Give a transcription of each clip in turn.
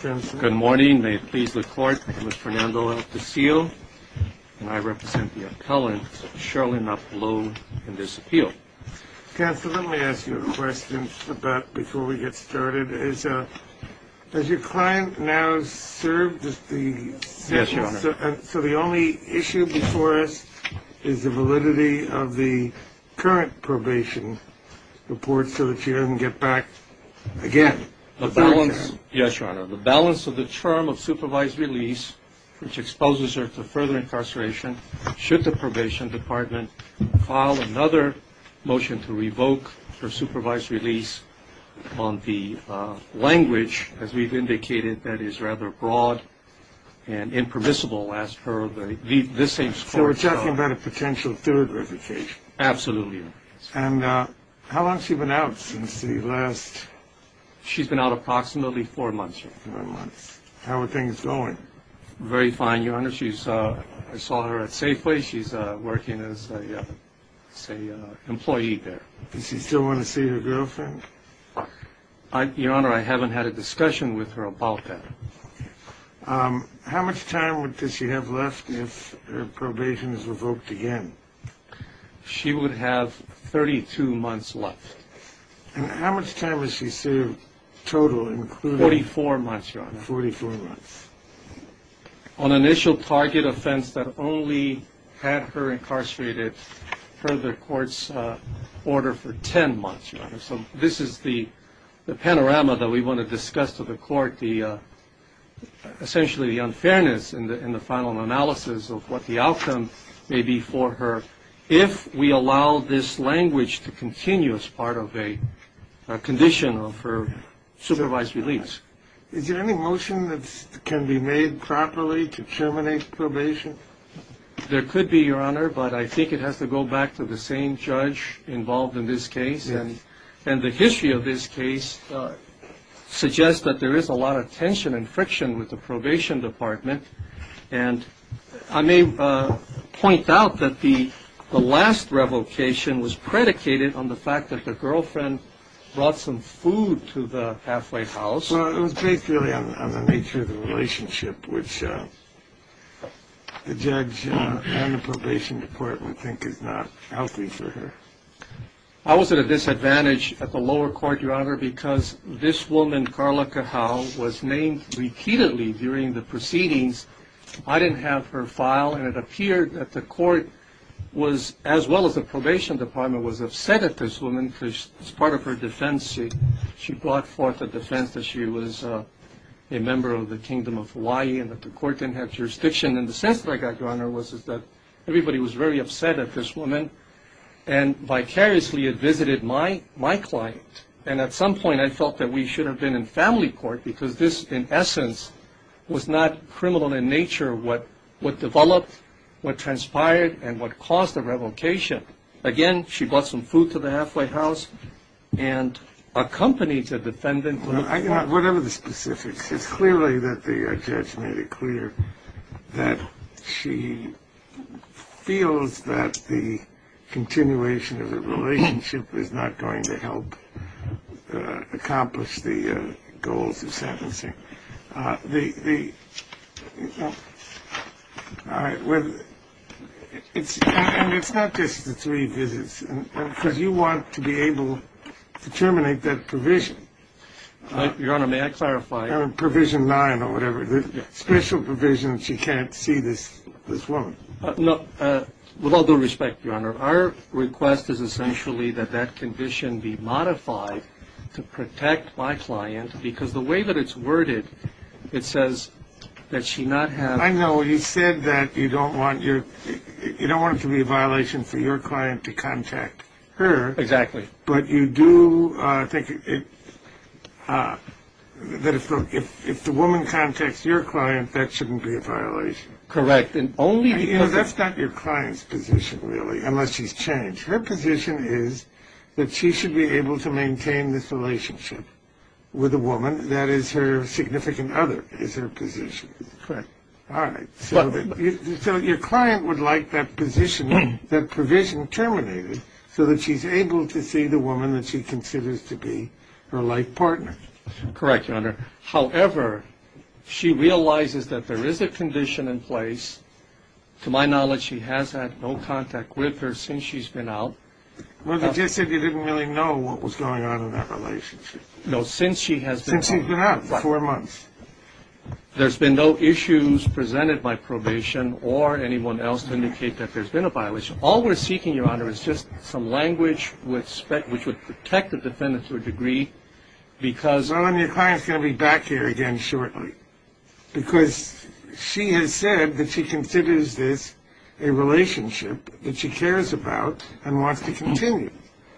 Good morning. May it please the court. I'm Mr. Fernando Altasil and I represent the appellant, Cherlyn Napulou, in this appeal. Counsel, let me ask you a question before we get started. Has your client now served the sentence? Yes, Your Honor. So the only issue before us is the validity of the current probation report so that she doesn't get back again? Yes, Your Honor. The balance of the term of supervised release, which exposes her to further incarceration, should the probation department file another motion to revoke her supervised release on the language, as we've indicated, that is rather broad and impermissible as per the same score. So we're talking about a potential third revocation? Absolutely. And how long has she been out since the last? She's been out approximately four months, Your Honor. Four months. How are things going? Very fine, Your Honor. I saw her at Safeway. She's working as an employee there. Does she still want to see her girlfriend? Your Honor, I haven't had a discussion with her about that. How much time does she have left if her probation is revoked again? She would have 32 months left. And how much time has she served total? Forty-four months, Your Honor. Forty-four months. On initial target offense that only had her incarcerated per the court's order for 10 months, Your Honor. So this is the panorama that we want to discuss to the court, essentially the unfairness in the final analysis of what the outcome may be for her if we allow this language to continue as part of a condition for supervised release. Is there any motion that can be made properly to terminate probation? There could be, Your Honor, but I think it has to go back to the same judge involved in this case. And the history of this case suggests that there is a lot of tension and friction with the probation department. And I may point out that the last revocation was predicated on the fact that the girlfriend brought some food to the halfway house. Well, it was based really on the nature of the relationship, which the judge and the probation department think is not healthy for her. I was at a disadvantage at the lower court, Your Honor, because this woman, Carla Cajal, was named repeatedly during the proceedings. I didn't have her file, and it appeared that the court was, as well as the probation department, was upset at this woman because as part of her defense, she brought forth a defense that she was a member of the Kingdom of Hawaii and that the court didn't have jurisdiction. And the sense that I got, Your Honor, was that everybody was very upset at this woman and vicariously had visited my client. And at some point, I felt that we should have been in family court because this, in essence, was not criminal in nature what developed, what transpired, and what caused the revocation. Again, she brought some food to the halfway house and accompanied the defendant. Whatever the specifics, it's clearly that the judge made it clear that she feels that the continuation of the relationship is not going to help accomplish the goals of sentencing. All right. And it's not just the three visits because you want to be able to terminate that provision. Your Honor, may I clarify? Provision 9 or whatever, the special provision that she can't see this woman. No. With all due respect, Your Honor, our request is essentially that that condition be modified to protect my client because the way that it's worded, it says that she not have. I know. You said that you don't want it to be a violation for your client to contact her. Exactly. But you do think that if the woman contacts your client, that shouldn't be a violation. Correct. That's not your client's position, really, unless she's changed. Her position is that she should be able to maintain this relationship with a woman. That is her significant other is her position. Correct. All right. So your client would like that position, that provision terminated, so that she's able to see the woman that she considers to be her life partner. Correct, Your Honor. However, she realizes that there is a condition in place. To my knowledge, she has had no contact with her since she's been out. Well, you just said you didn't really know what was going on in that relationship. No, since she has been out. Since she's been out. Four months. There's been no issues presented by probation or anyone else to indicate that there's been a violation. All we're seeking, Your Honor, is just some language which would protect the defendant to a degree because – Well, and your client's going to be back here again shortly because she has said that she considers this a relationship that she cares about and wants to continue.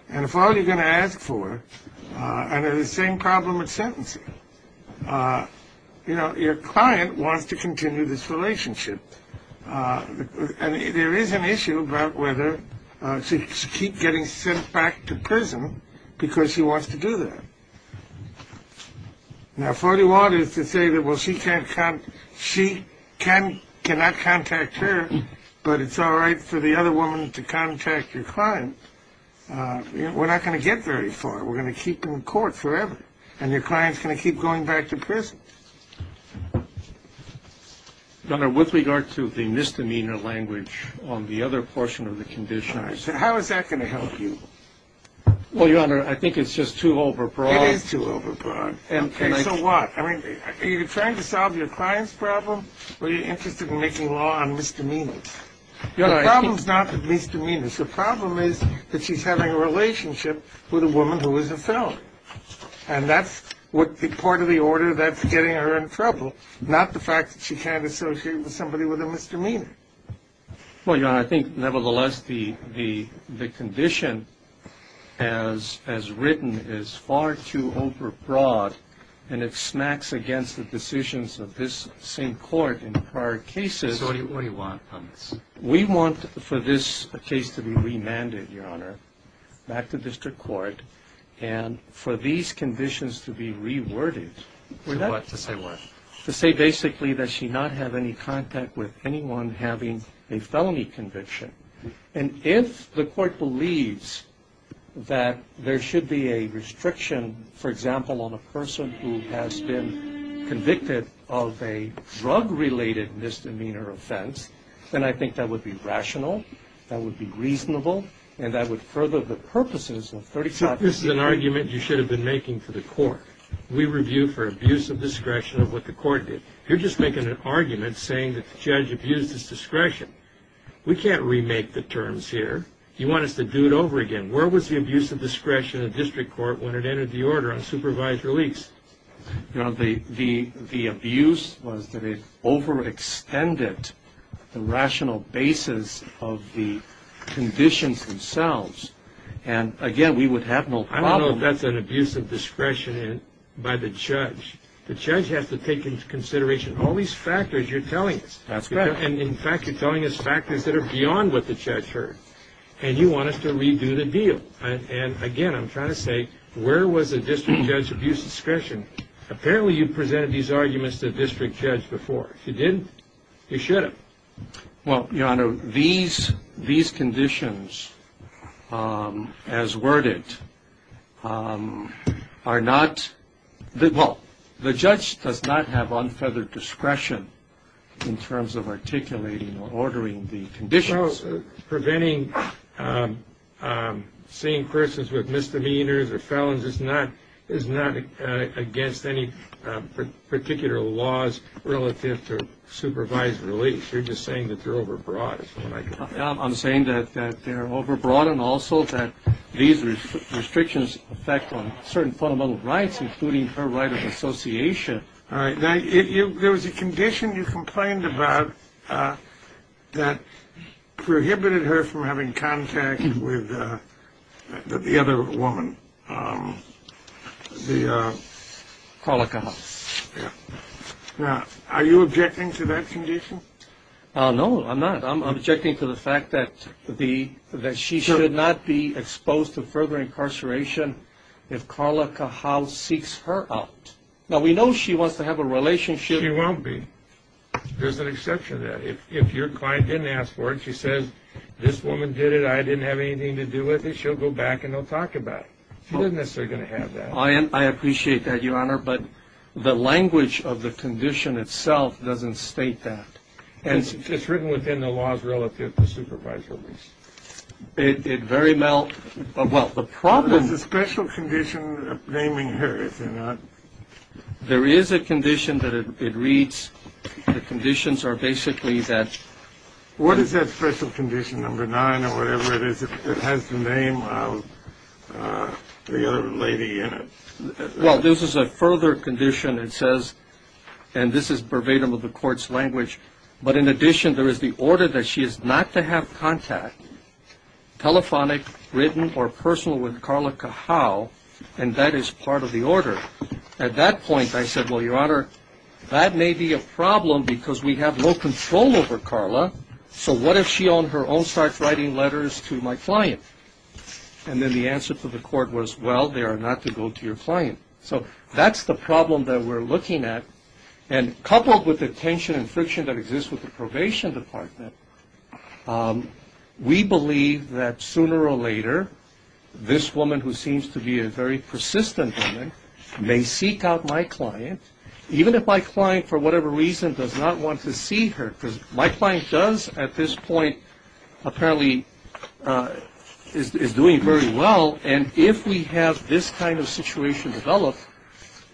And if all you're going to ask for – and the same problem with sentencing. You know, your client wants to continue this relationship. And there is an issue about whether to keep getting sent back to prison because she wants to do that. Now, if all you want is to say that, well, she cannot contact her, but it's all right for the other woman to contact your client, we're not going to get very far. We're going to keep in court forever. And your client's going to keep going back to prison. Your Honor, with regard to the misdemeanor language on the other portion of the condition. How is that going to help you? Well, Your Honor, I think it's just too overbroad. It is too overbroad. And so what? I mean, are you trying to solve your client's problem or are you interested in making law on misdemeanors? Your problem's not misdemeanors. The problem is that she's having a relationship with a woman who is a felon. And that's part of the order that's getting her in trouble, not the fact that she can't associate with somebody with a misdemeanor. Well, Your Honor, I think, nevertheless, the condition as written is far too overbroad. And it smacks against the decisions of this same court in prior cases. So what do you want on this? We want for this case to be remanded, Your Honor, back to district court and for these conditions to be reworded. To say what? To say basically that she not have any contact with anyone having a felony conviction. And if the court believes that there should be a restriction, for example, on a person who has been convicted of a drug-related misdemeanor offense, then I think that would be rational, that would be reasonable, and that would further the purposes of 30- So this is an argument you should have been making for the court. We review for abuse of discretion of what the court did. You're just making an argument saying that the judge abused his discretion. We can't remake the terms here. You want us to do it over again. Where was the abuse of discretion of district court when it entered the order on supervised release? The abuse was that it overextended the rational basis of the conditions themselves. And, again, we would have no problem- I don't know if that's an abuse of discretion by the judge. The judge has to take into consideration all these factors you're telling us. That's correct. And, in fact, you're telling us factors that are beyond what the judge heard. And you want us to redo the deal. And, again, I'm trying to say, where was the district judge's abuse of discretion? Apparently you presented these arguments to the district judge before. If you didn't, you should have. Well, Your Honor, these conditions, as worded, are not- Well, the judge does not have unfeathered discretion in terms of articulating or ordering the conditions. So preventing seeing persons with misdemeanors or felons is not against any particular laws relative to supervised release. You're just saying that they're overbroad is what I get. I'm saying that they're overbroad and also that these restrictions affect on certain fundamental rights, including her right of association. All right. Now, there was a condition you complained about that prohibited her from having contact with the other woman, the- Carla Cajal. Yeah. Now, are you objecting to that condition? No, I'm not. I'm objecting to the fact that she should not be exposed to further incarceration if Carla Cajal seeks her out. Now, we know she wants to have a relationship. She won't be. There's an exception to that. If your client didn't ask for it, she says, this woman did it, I didn't have anything to do with it, she'll go back and they'll talk about it. She's not necessarily going to have that. I appreciate that, Your Honor, but the language of the condition itself doesn't state that. And it's written within the laws relative to supervised release. It very well- There's a special condition naming her, is there not? There is a condition that it reads, the conditions are basically that- What is that special condition, number nine or whatever it is, that has the name of the other lady in it? Well, this is a further condition. It says, and this is verbatim of the court's language, but in addition there is the order that she is not to have contact, telephonic, written, or personal with Carla Cajal, and that is part of the order. At that point, I said, well, Your Honor, that may be a problem because we have no control over Carla, so what if she on her own starts writing letters to my client? And then the answer to the court was, well, they are not to go to your client. So that's the problem that we're looking at. And coupled with the tension and friction that exists with the probation department, we believe that sooner or later this woman who seems to be a very persistent woman may seek out my client, even if my client, for whatever reason, does not want to see her, because my client does at this point apparently is doing very well, and if we have this kind of situation develop,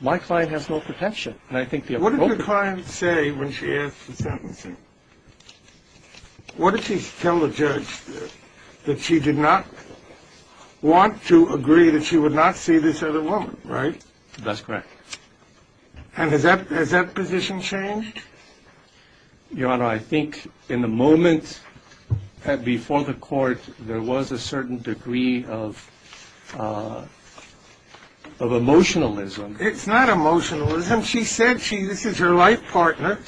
my client has no protection. What did the client say when she asked for sentencing? What did she tell the judge? That she did not want to agree that she would not see this other woman, right? That's correct. And has that position changed? Your Honor, I think in the moment before the court, there was a certain degree of emotionalism. It's not emotionalism. She said this is her life partner.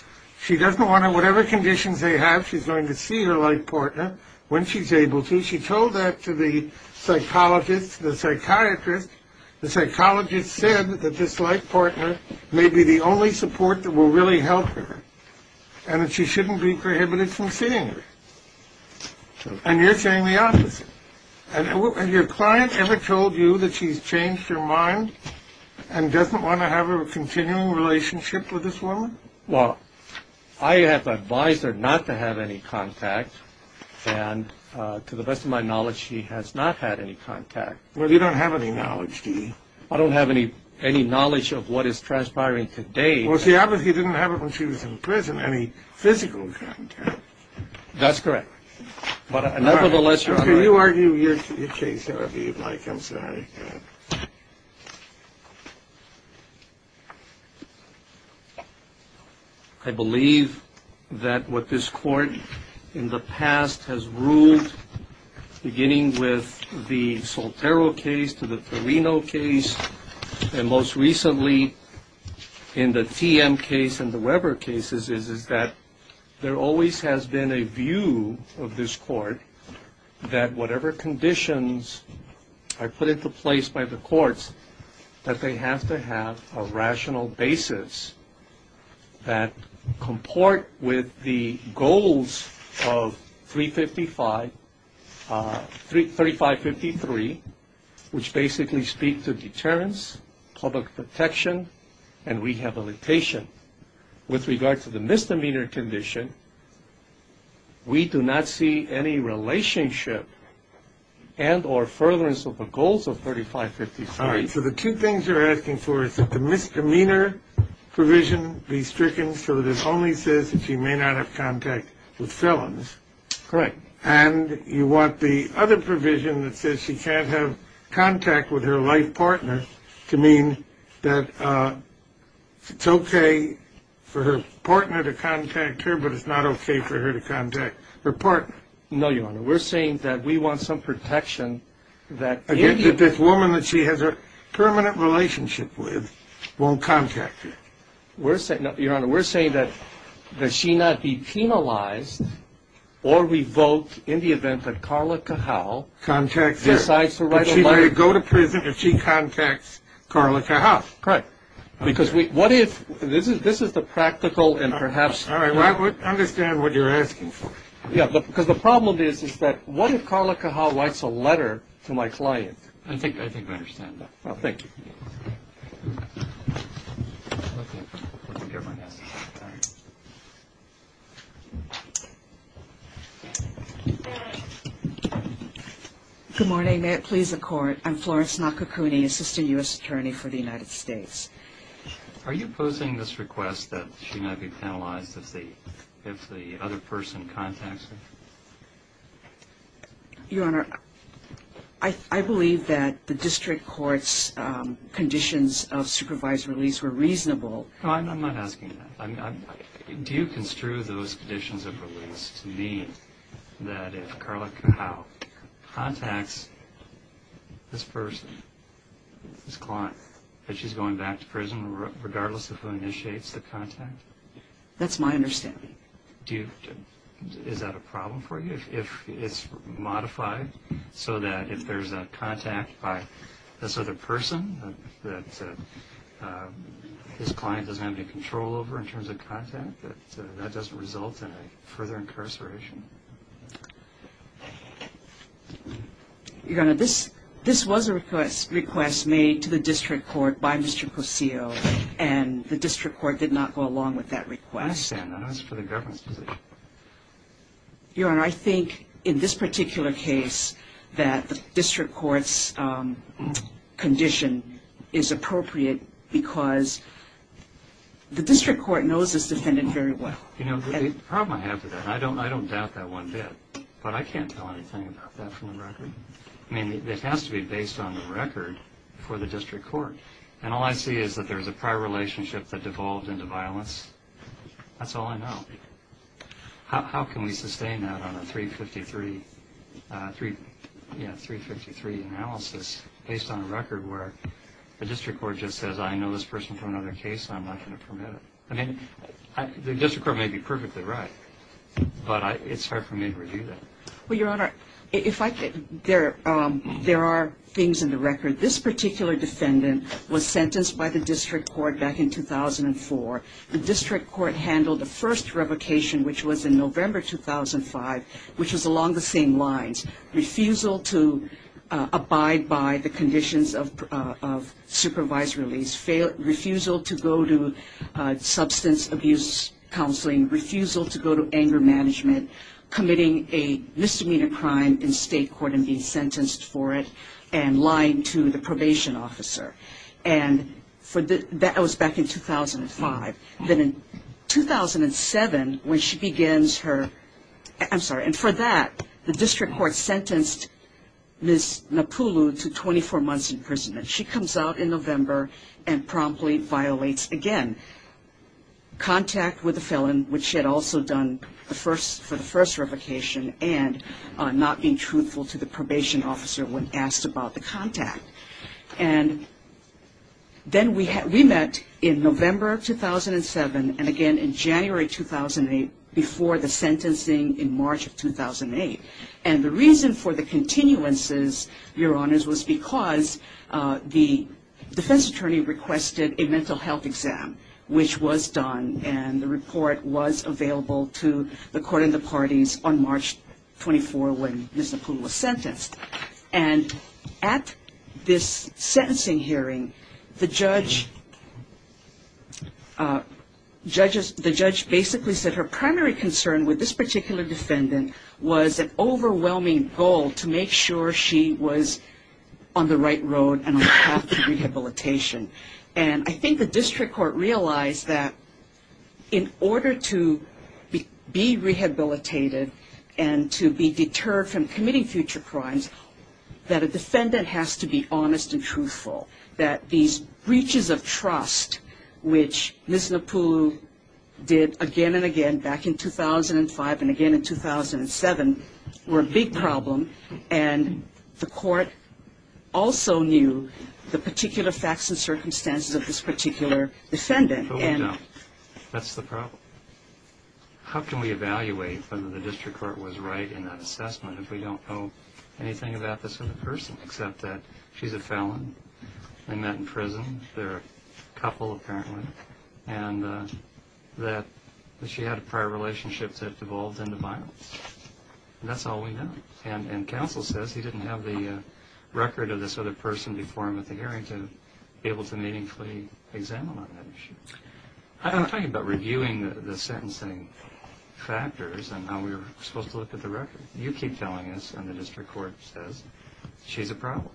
She doesn't want to, whatever conditions they have, she's going to see her life partner when she's able to. She told that to the psychologist, the psychiatrist. The psychologist said that this life partner may be the only support that will really help her and that she shouldn't be prohibited from seeing her. And you're saying the opposite. Has your client ever told you that she's changed her mind and doesn't want to have a continuing relationship with this woman? Well, I have advised her not to have any contact, and to the best of my knowledge, she has not had any contact. Well, you don't have any knowledge, do you? I don't have any knowledge of what is transpiring today. Well, see, obviously you didn't have it when she was in prison, any physical contact. That's correct. Can you argue your case however you'd like? I'm sorry. I believe that what this court in the past has ruled, beginning with the Soltero case to the Torino case, and most recently in the TM case and the Weber cases, is that there always has been a view of this court that whatever conditions are put into place by the courts, that they have to have a rational basis that comport with the goals of 3553, which basically speak to deterrence, public protection, and rehabilitation. With regard to the misdemeanor condition, we do not see any relationship and or furtherance of the goals of 3553. All right, so the two things you're asking for is that the misdemeanor provision be stricken so that it only says that she may not have contact with felons. Correct. And you want the other provision that says she can't have contact with her life partner to mean that it's okay for her partner to contact her, but it's not okay for her to contact her partner. No, Your Honor. We're saying that we want some protection that... Again, that this woman that she has a permanent relationship with won't contact her. Your Honor, we're saying that she not be penalized or revoked in the event that Carla Cajal... Contacts her. ...decides to write a letter. But she may go to prison if she contacts Carla Cajal. Correct. Because what if... This is the practical and perhaps... All right, I understand what you're asking for. Yeah, because the problem is that what if Carla Cajal writes a letter to my client? I think I understand that. Thank you. Good morning. May it please the Court. I'm Florence Nakakuni, Assistant U.S. Attorney for the United States. Are you opposing this request that she not be penalized if the other person contacts her? Your Honor, I believe that the district court's conditions of supervised release were reasonable. No, I'm not asking that. Do you construe those conditions of release to mean that if Carla Cajal contacts this person, this client, that she's going back to prison regardless of who initiates the contact? That's my understanding. Do you... Is that a problem for you? If it's modified so that if there's a contact by this other person that this client doesn't have any control over in terms of contact, that that doesn't result in a further incarceration? Your Honor, this was a request made to the district court by Mr. Kosio, and the district court did not go along with that request. I understand that. That's for the government's position. Your Honor, I think in this particular case that the district court's condition is appropriate because the district court knows this defendant very well. You know, the problem I have with that, and I don't doubt that one bit, but I can't tell anything about that from the record. I mean, it has to be based on the record for the district court, and all I see is that there's a prior relationship that devolved into violence. That's all I know. How can we sustain that on a 353 analysis based on a record where the district court just says, I know this person from another case and I'm not going to permit it? I mean, the district court may be perfectly right, but it's hard for me to review that. Well, Your Honor, if I could, there are things in the record. This particular defendant was sentenced by the district court back in 2004. The district court handled the first revocation, which was in November 2005, which was along the same lines. Refusal to abide by the conditions of supervised release, refusal to go to substance abuse counseling, refusal to go to anger management, committing a misdemeanor crime in state court and being sentenced for it, and lying to the probation officer. And that was back in 2005. Then in 2007, when she begins her – I'm sorry. And for that, the district court sentenced Ms. Napulu to 24 months in prison. And she comes out in November and promptly violates, again, contact with the felon, which she had also done for the first revocation, and not being truthful to the probation officer when asked about the contact. And then we met in November 2007, and again in January 2008, before the sentencing in March of 2008. And the reason for the continuances, Your Honors, was because the defense attorney requested a mental health exam, which was done, and the report was available to the court and the parties on March 24 when Ms. Napulu was sentenced. And at this sentencing hearing, the judge basically said her primary concern with this particular defendant was an overwhelming goal to make sure she was on the right road and on the path to rehabilitation. And I think the district court realized that in order to be rehabilitated and to be deterred from committing future crimes, that a defendant has to be honest and truthful. That these breaches of trust, which Ms. Napulu did again and again back in 2005 and again in 2007, were a big problem. And the court also knew the particular facts and circumstances of this particular defendant. But we don't. That's the problem. How can we evaluate whether the district court was right in that assessment if we don't know anything about this other person except that she's a felon, they met in prison, they're a couple apparently, and that she had a prior relationship that devolved into violence. And that's all we know. And counsel says he didn't have the record of this other person before him at the hearing to be able to meaningfully examine on that issue. I'm talking about reviewing the sentencing factors and how we were supposed to look at the record. You keep telling us and the district court says she's a problem.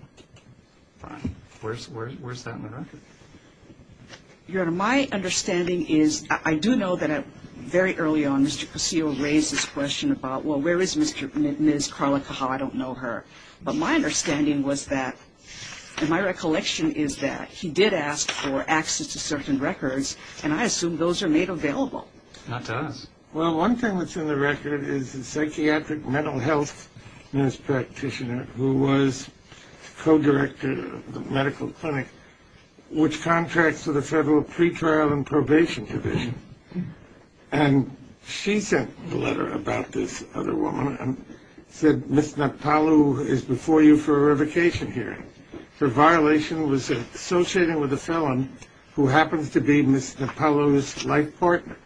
Fine. Where's that in the record? Your Honor, my understanding is, I do know that very early on, Mr. Cossio raised this question about, well, where is Ms. Carla Cajal? I don't know her. But my understanding was that, and my recollection is that, he did ask for access to certain records, and I assume those are made available. Not to us. Well, one thing that's in the record is a psychiatric mental health nurse practitioner who was co-director of the medical clinic which contracts to the federal pretrial and probation division. And she sent a letter about this other woman and said, Ms. Napaloo is before you for a revocation hearing. Her violation was associating with a felon who happens to be Ms. Napaloo's life partner.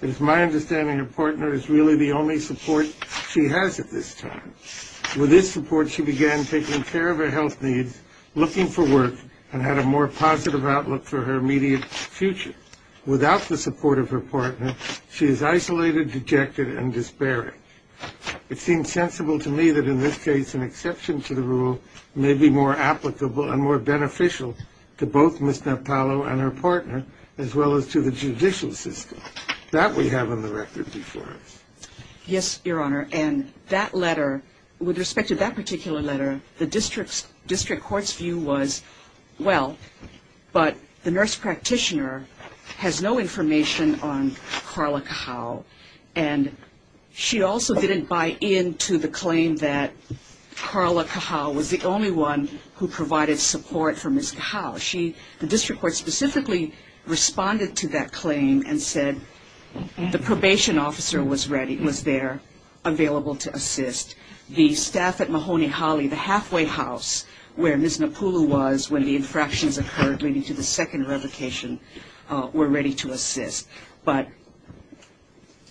It is my understanding her partner is really the only support she has at this time. With this support, she began taking care of her health needs, looking for work, and had a more positive outlook for her immediate future. Without the support of her partner, she is isolated, dejected, and despairing. It seems sensible to me that in this case an exception to the rule may be more applicable and more beneficial to both Ms. Napaloo and her partner as well as to the judicial system. That we have on the record before us. Yes, Your Honor, and that letter, with respect to that particular letter, the district court's view was, well, but the nurse practitioner has no information on Carla Cajal. And she also didn't buy into the claim that Carla Cajal was the only one who provided support for Ms. Cajal. The district court specifically responded to that claim and said the probation officer was there available to assist. The staff at Mahoney Holly, the halfway house where Ms. Napaloo was when the infractions occurred leading to the second revocation, were ready to assist. But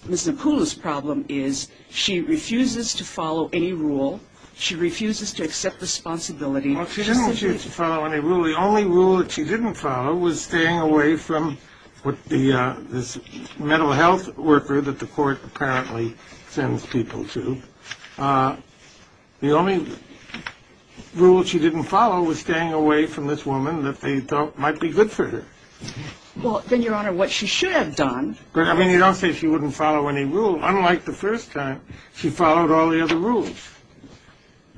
Ms. Napaloo's problem is she refuses to follow any rule. She refuses to accept responsibility. Well, she didn't refuse to follow any rule. The only rule that she didn't follow was staying away from this mental health worker that the court apparently sends people to. The only rule she didn't follow was staying away from this woman that they thought might be good for her. Well, then, Your Honor, what she should have done. I mean, you don't say she wouldn't follow any rule. Unlike the first time, she followed all the other rules.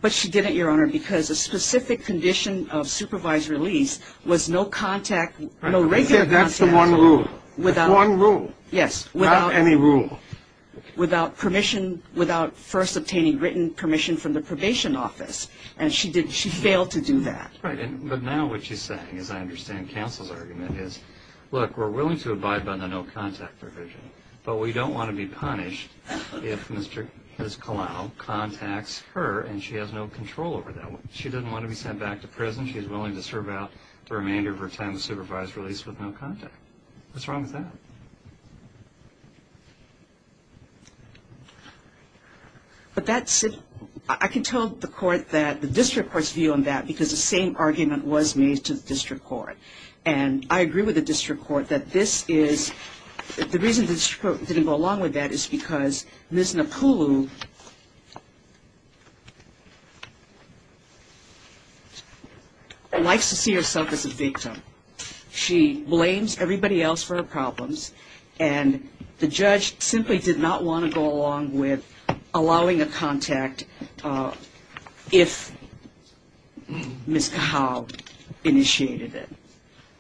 But she didn't, Your Honor, because a specific condition of supervised release was no contact, no regular contact. I said that's the one rule. One rule. Yes. Without any rule. Without permission, without first obtaining written permission from the probation office. And she failed to do that. Right. But now what she's saying, as I understand counsel's argument, is, look, we're willing to abide by the no contact provision, but we don't want to be punished if Ms. Kalau contacts her and she has no control over that woman. She doesn't want to be sent back to prison. She's willing to serve out the remainder of her time as a supervised release with no contact. What's wrong with that? But that's it. I can tell the court that the district court's view on that because the same argument was made to the district court. And I agree with the district court that this is the reason the district court didn't go along with that is because Ms. Napulu likes to see herself as a victim. She blames everybody else for her problems. And the judge simply did not want to go along with allowing a contact if Ms. Kalau initiated it.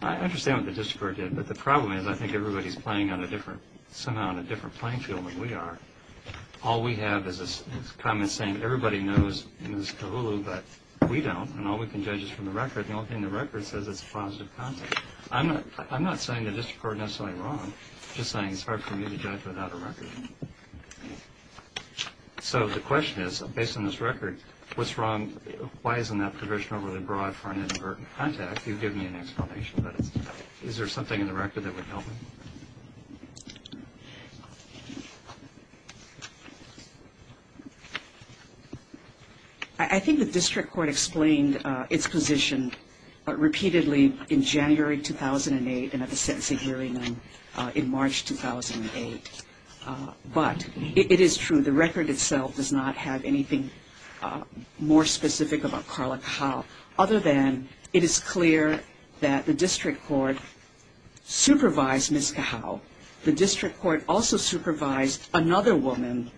I understand what the district court did. But the problem is I think everybody's playing on a different, somehow on a different playing field than we are. All we have is comments saying everybody knows Ms. Kalau, but we don't. And all we can judge is from the record. The only thing the record says is it's a positive contact. I'm not saying the district court is necessarily wrong. I'm just saying it's hard for me to judge without a record. So the question is, based on this record, what's wrong? Why isn't that provision overly broad for an inadvertent contact? You've given me an explanation, but is there something in the record that would help me? I think the district court explained its position repeatedly in January 2008 and at the sentencing hearing in March 2008. But it is true, the record itself does not have anything more specific about Carla Kalau other than it is clear that the district court supervised Ms. Kalau The district court also supervised another woman,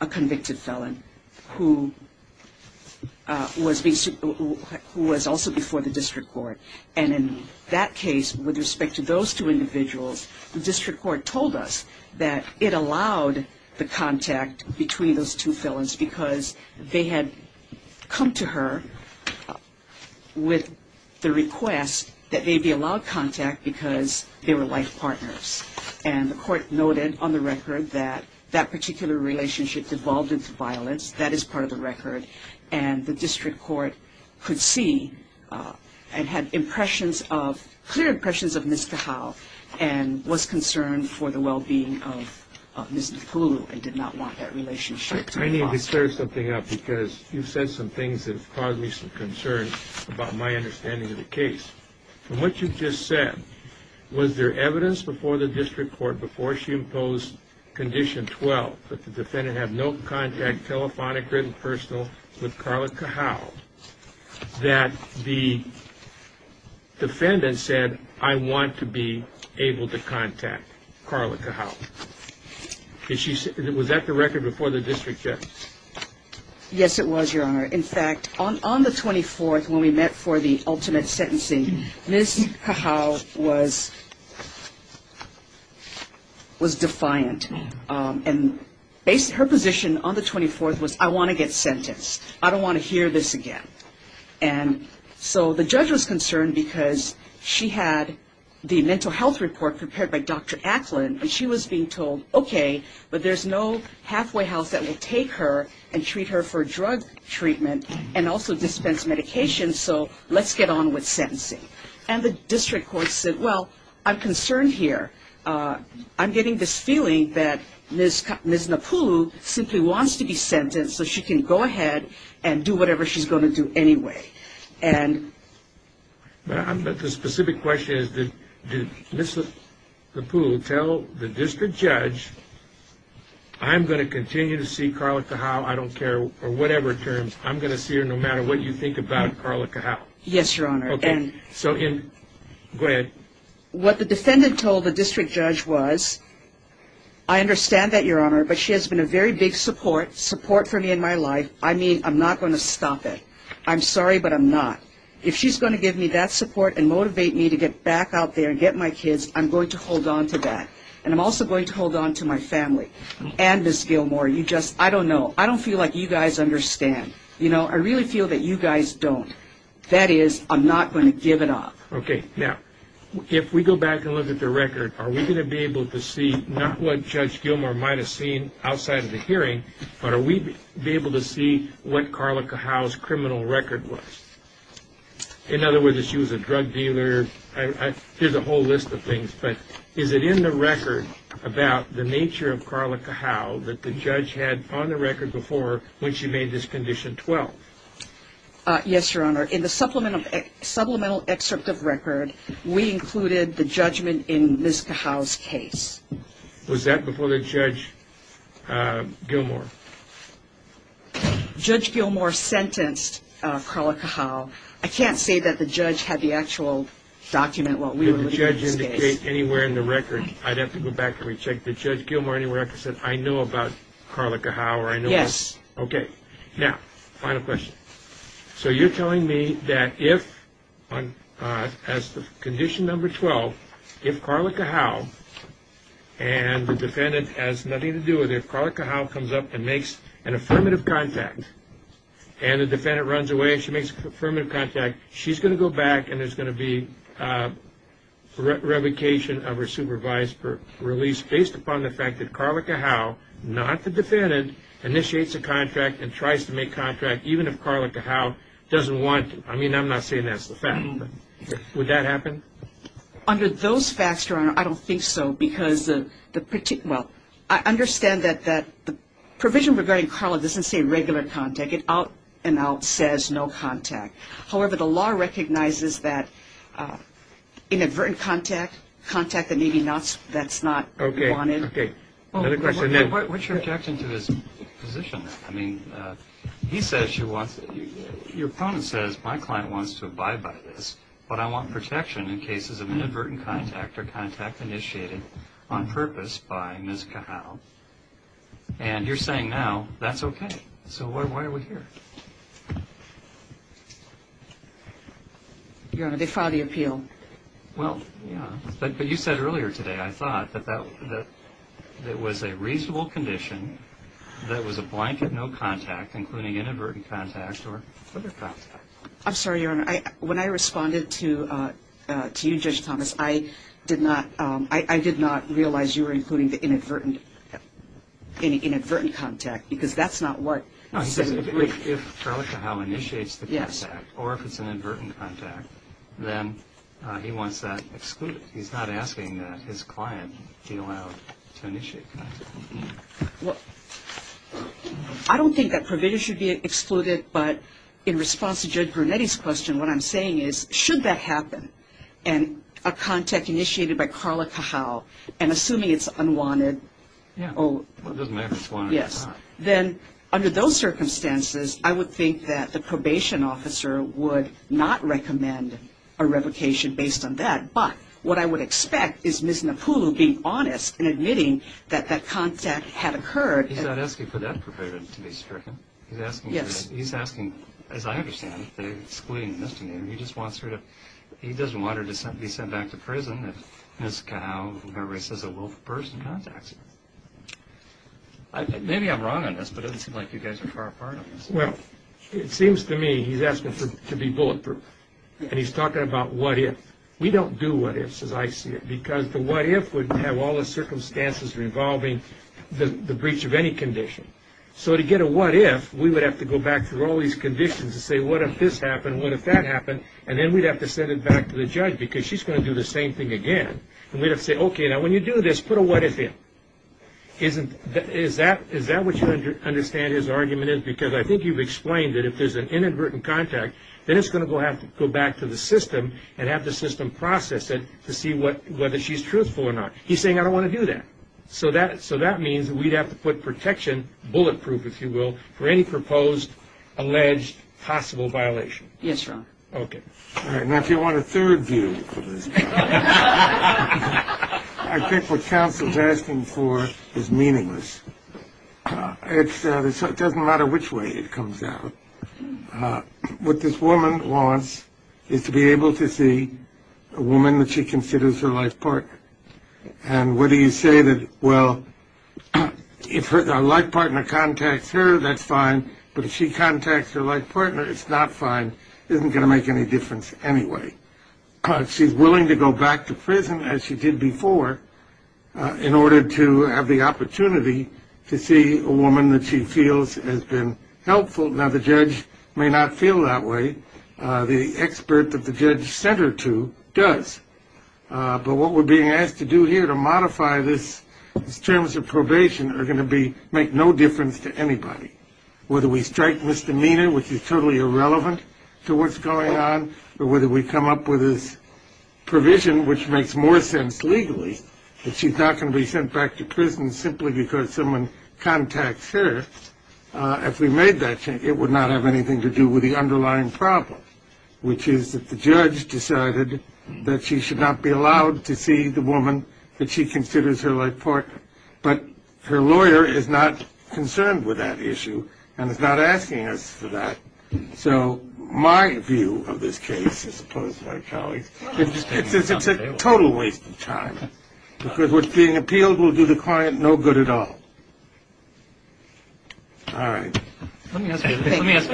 a convicted felon, who was also before the district court. And in that case, with respect to those two individuals, the district court told us that it allowed the contact between those two felons because they had come to her with the request that they be allowed contact because they were life partners. And the court noted on the record that that particular relationship devolved into violence. That is part of the record. And the district court could see and had impressions of, clear impressions of Ms. Kalau and was concerned for the well-being of Ms. Nipulu and did not want that relationship to be lost. I need to clear something up because you've said some things that have caused me some concern about my understanding of the case. From what you've just said, was there evidence before the district court, before she imposed Condition 12, that the defendant had no contact, telephonic, written, personal, with Carla Kalau, that the defendant said, I want to be able to contact Carla Kalau? Was that the record before the district judge? Yes, it was, Your Honor. In fact, on the 24th when we met for the ultimate sentencing, Ms. Kalau was defiant. And her position on the 24th was, I want to get sentenced. I don't want to hear this again. And so the judge was concerned because she had the mental health report prepared by Dr. Atlin and she was being told, okay, but there's no halfway house that will take her and treat her for drug treatment and also dispense medication, so let's get on with sentencing. And the district court said, well, I'm concerned here. I'm getting this feeling that Ms. Nipulu simply wants to be sentenced so she can go ahead and do whatever she's going to do anyway. But the specific question is, did Ms. Nipulu tell the district judge, I'm going to continue to see Carla Kalau, I don't care, or whatever terms, I'm going to see her no matter what you think about Carla Kalau? Yes, Your Honor. Okay, so go ahead. What the defendant told the district judge was, I understand that, Your Honor, but she has been a very big support, support for me in my life. I mean, I'm not going to stop it. I'm sorry, but I'm not. If she's going to give me that support and motivate me to get back out there and get my kids, I'm going to hold on to that. And I'm also going to hold on to my family and Ms. Gilmore. You just, I don't know, I don't feel like you guys understand. You know, I really feel that you guys don't. That is, I'm not going to give it up. Okay, now, if we go back and look at the record, are we going to be able to see not what Judge Gilmore might have seen outside of the hearing, but are we going to be able to see what Carla Kalau's criminal record was? In other words, if she was a drug dealer, here's a whole list of things, but is it in the record about the nature of Carla Kalau that the judge had on the record before when she made this Condition 12? Yes, Your Honor. In the supplemental excerpt of record, we included the judgment in Ms. Kalau's case. Was that before Judge Gilmore? Judge Gilmore sentenced Carla Kalau. I can't say that the judge had the actual document while we were looking at this case. If the judge indicates anywhere in the record, I'd have to go back and recheck. Did Judge Gilmore anywhere ever say, I know about Carla Kalau? Yes. Okay, now, final question. So you're telling me that if, as to Condition Number 12, if Carla Kalau, and the defendant has nothing to do with it, if Carla Kalau comes up and makes an affirmative contact, and the defendant runs away and she makes an affirmative contact, she's going to go back and there's going to be revocation of her supervised release, based upon the fact that Carla Kalau, not the defendant, initiates a contract and tries to make contract even if Carla Kalau doesn't want to. I mean, I'm not saying that's the fact, but would that happen? Under those facts, Your Honor, I don't think so, because the particular – well, I understand that the provision regarding Carla doesn't say regular contact. It out and out says no contact. However, the law recognizes that inadvertent contact, contact that maybe that's not wanted. Okay. Another question. What's your objection to his position? I mean, he says she wants – your opponent says, my client wants to abide by this, but I want protection in cases of inadvertent contact or contact initiated on purpose by Ms. Kalau. And you're saying now that's okay. So why are we here? Your Honor, they filed the appeal. Well, yeah. But you said earlier today, I thought, that that was a reasonable condition, that it was a blanket no contact, including inadvertent contact or further contact. I'm sorry, Your Honor. When I responded to you, Judge Thomas, I did not realize you were including the inadvertent contact because that's not what he said in the brief. No, he says if Carla Kalau initiates the contact or if it's an inadvertent contact, then he wants that excluded. He's not asking that his client be allowed to initiate contact. Well, I don't think that provision should be excluded, but in response to Judge Brunetti's question, what I'm saying is, should that happen, and a contact initiated by Carla Kalau, and assuming it's unwanted? Yeah. Well, it doesn't matter if it's wanted or not. Yes. Then under those circumstances, I would think that the probation officer would not recommend a revocation based on that. But what I would expect is Ms. Napulu being honest and admitting that that contact had occurred. He's not asking for that provision to be stricken. He's asking, as I understand it, to exclude Ms. Napulu. He just wants her to be sent back to prison if Ms. Kalau, whoever it is, is a willful person, contacts her. Maybe I'm wrong on this, but it doesn't seem like you guys are far apart on this. Well, it seems to me he's asking to be bulletproof, and he's talking about what if. We don't do what ifs, as I see it, because the what if would have all the circumstances involving the breach of any condition. So to get a what if, we would have to go back through all these conditions and say what if this happened, what if that happened, and then we'd have to send it back to the judge because she's going to do the same thing again. And we'd have to say, okay, now when you do this, put a what if in. Is that what you understand his argument is? Because I think you've explained that if there's an inadvertent contact, then it's going to have to go back to the system and have the system process it to see whether she's truthful or not. He's saying, I don't want to do that. So that means we'd have to put protection, bulletproof, if you will, for any proposed, alleged, possible violation. Yes, Your Honor. Okay. All right. Now, if you want a third view of this, I think what counsel is asking for is meaningless. It doesn't matter which way it comes out. What this woman wants is to be able to see a woman that she considers her life partner. And what do you say? Well, if her life partner contacts her, that's fine. But if she contacts her life partner, it's not fine. It isn't going to make any difference anyway. She's willing to go back to prison, as she did before, in order to have the opportunity to see a woman that she feels has been helpful. Now, the judge may not feel that way. The expert that the judge sent her to does. But what we're being asked to do here to modify these terms of probation are going to make no difference to anybody, whether we strike misdemeanor, which is totally irrelevant to what's going on, or whether we come up with this provision, which makes more sense legally, that she's not going to be sent back to prison simply because someone contacts her. If we made that change, it would not have anything to do with the underlying problem, which is that the judge decided that she should not be allowed to see the woman that she considers her life partner. But her lawyer is not concerned with that issue and is not asking us for that. So my view of this case, as opposed to my colleague's, is it's a total waste of time, because what's being appealed will do the client no good at all. All right. Let me ask you this. Let me ask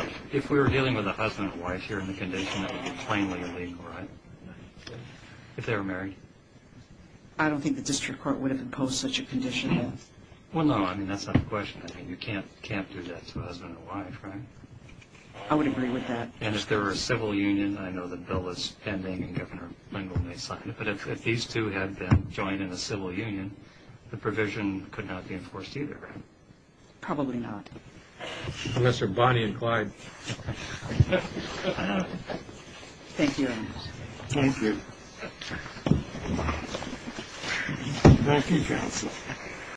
you this. If we were dealing with a husband and wife here in the condition that would be plainly illegal, right, if they were married? I don't think the district court would have imposed such a condition. Well, no. I mean, that's not the question. I mean, you can't do that to a husband and wife, right? I would agree with that. And if there were a civil union, I know the bill is pending and Governor Lindel may sign it, but if these two had been joined in a civil union, the provision could not be enforced either, right? Probably not. Mr. Bonnie and Clyde. Thank you. Thank you.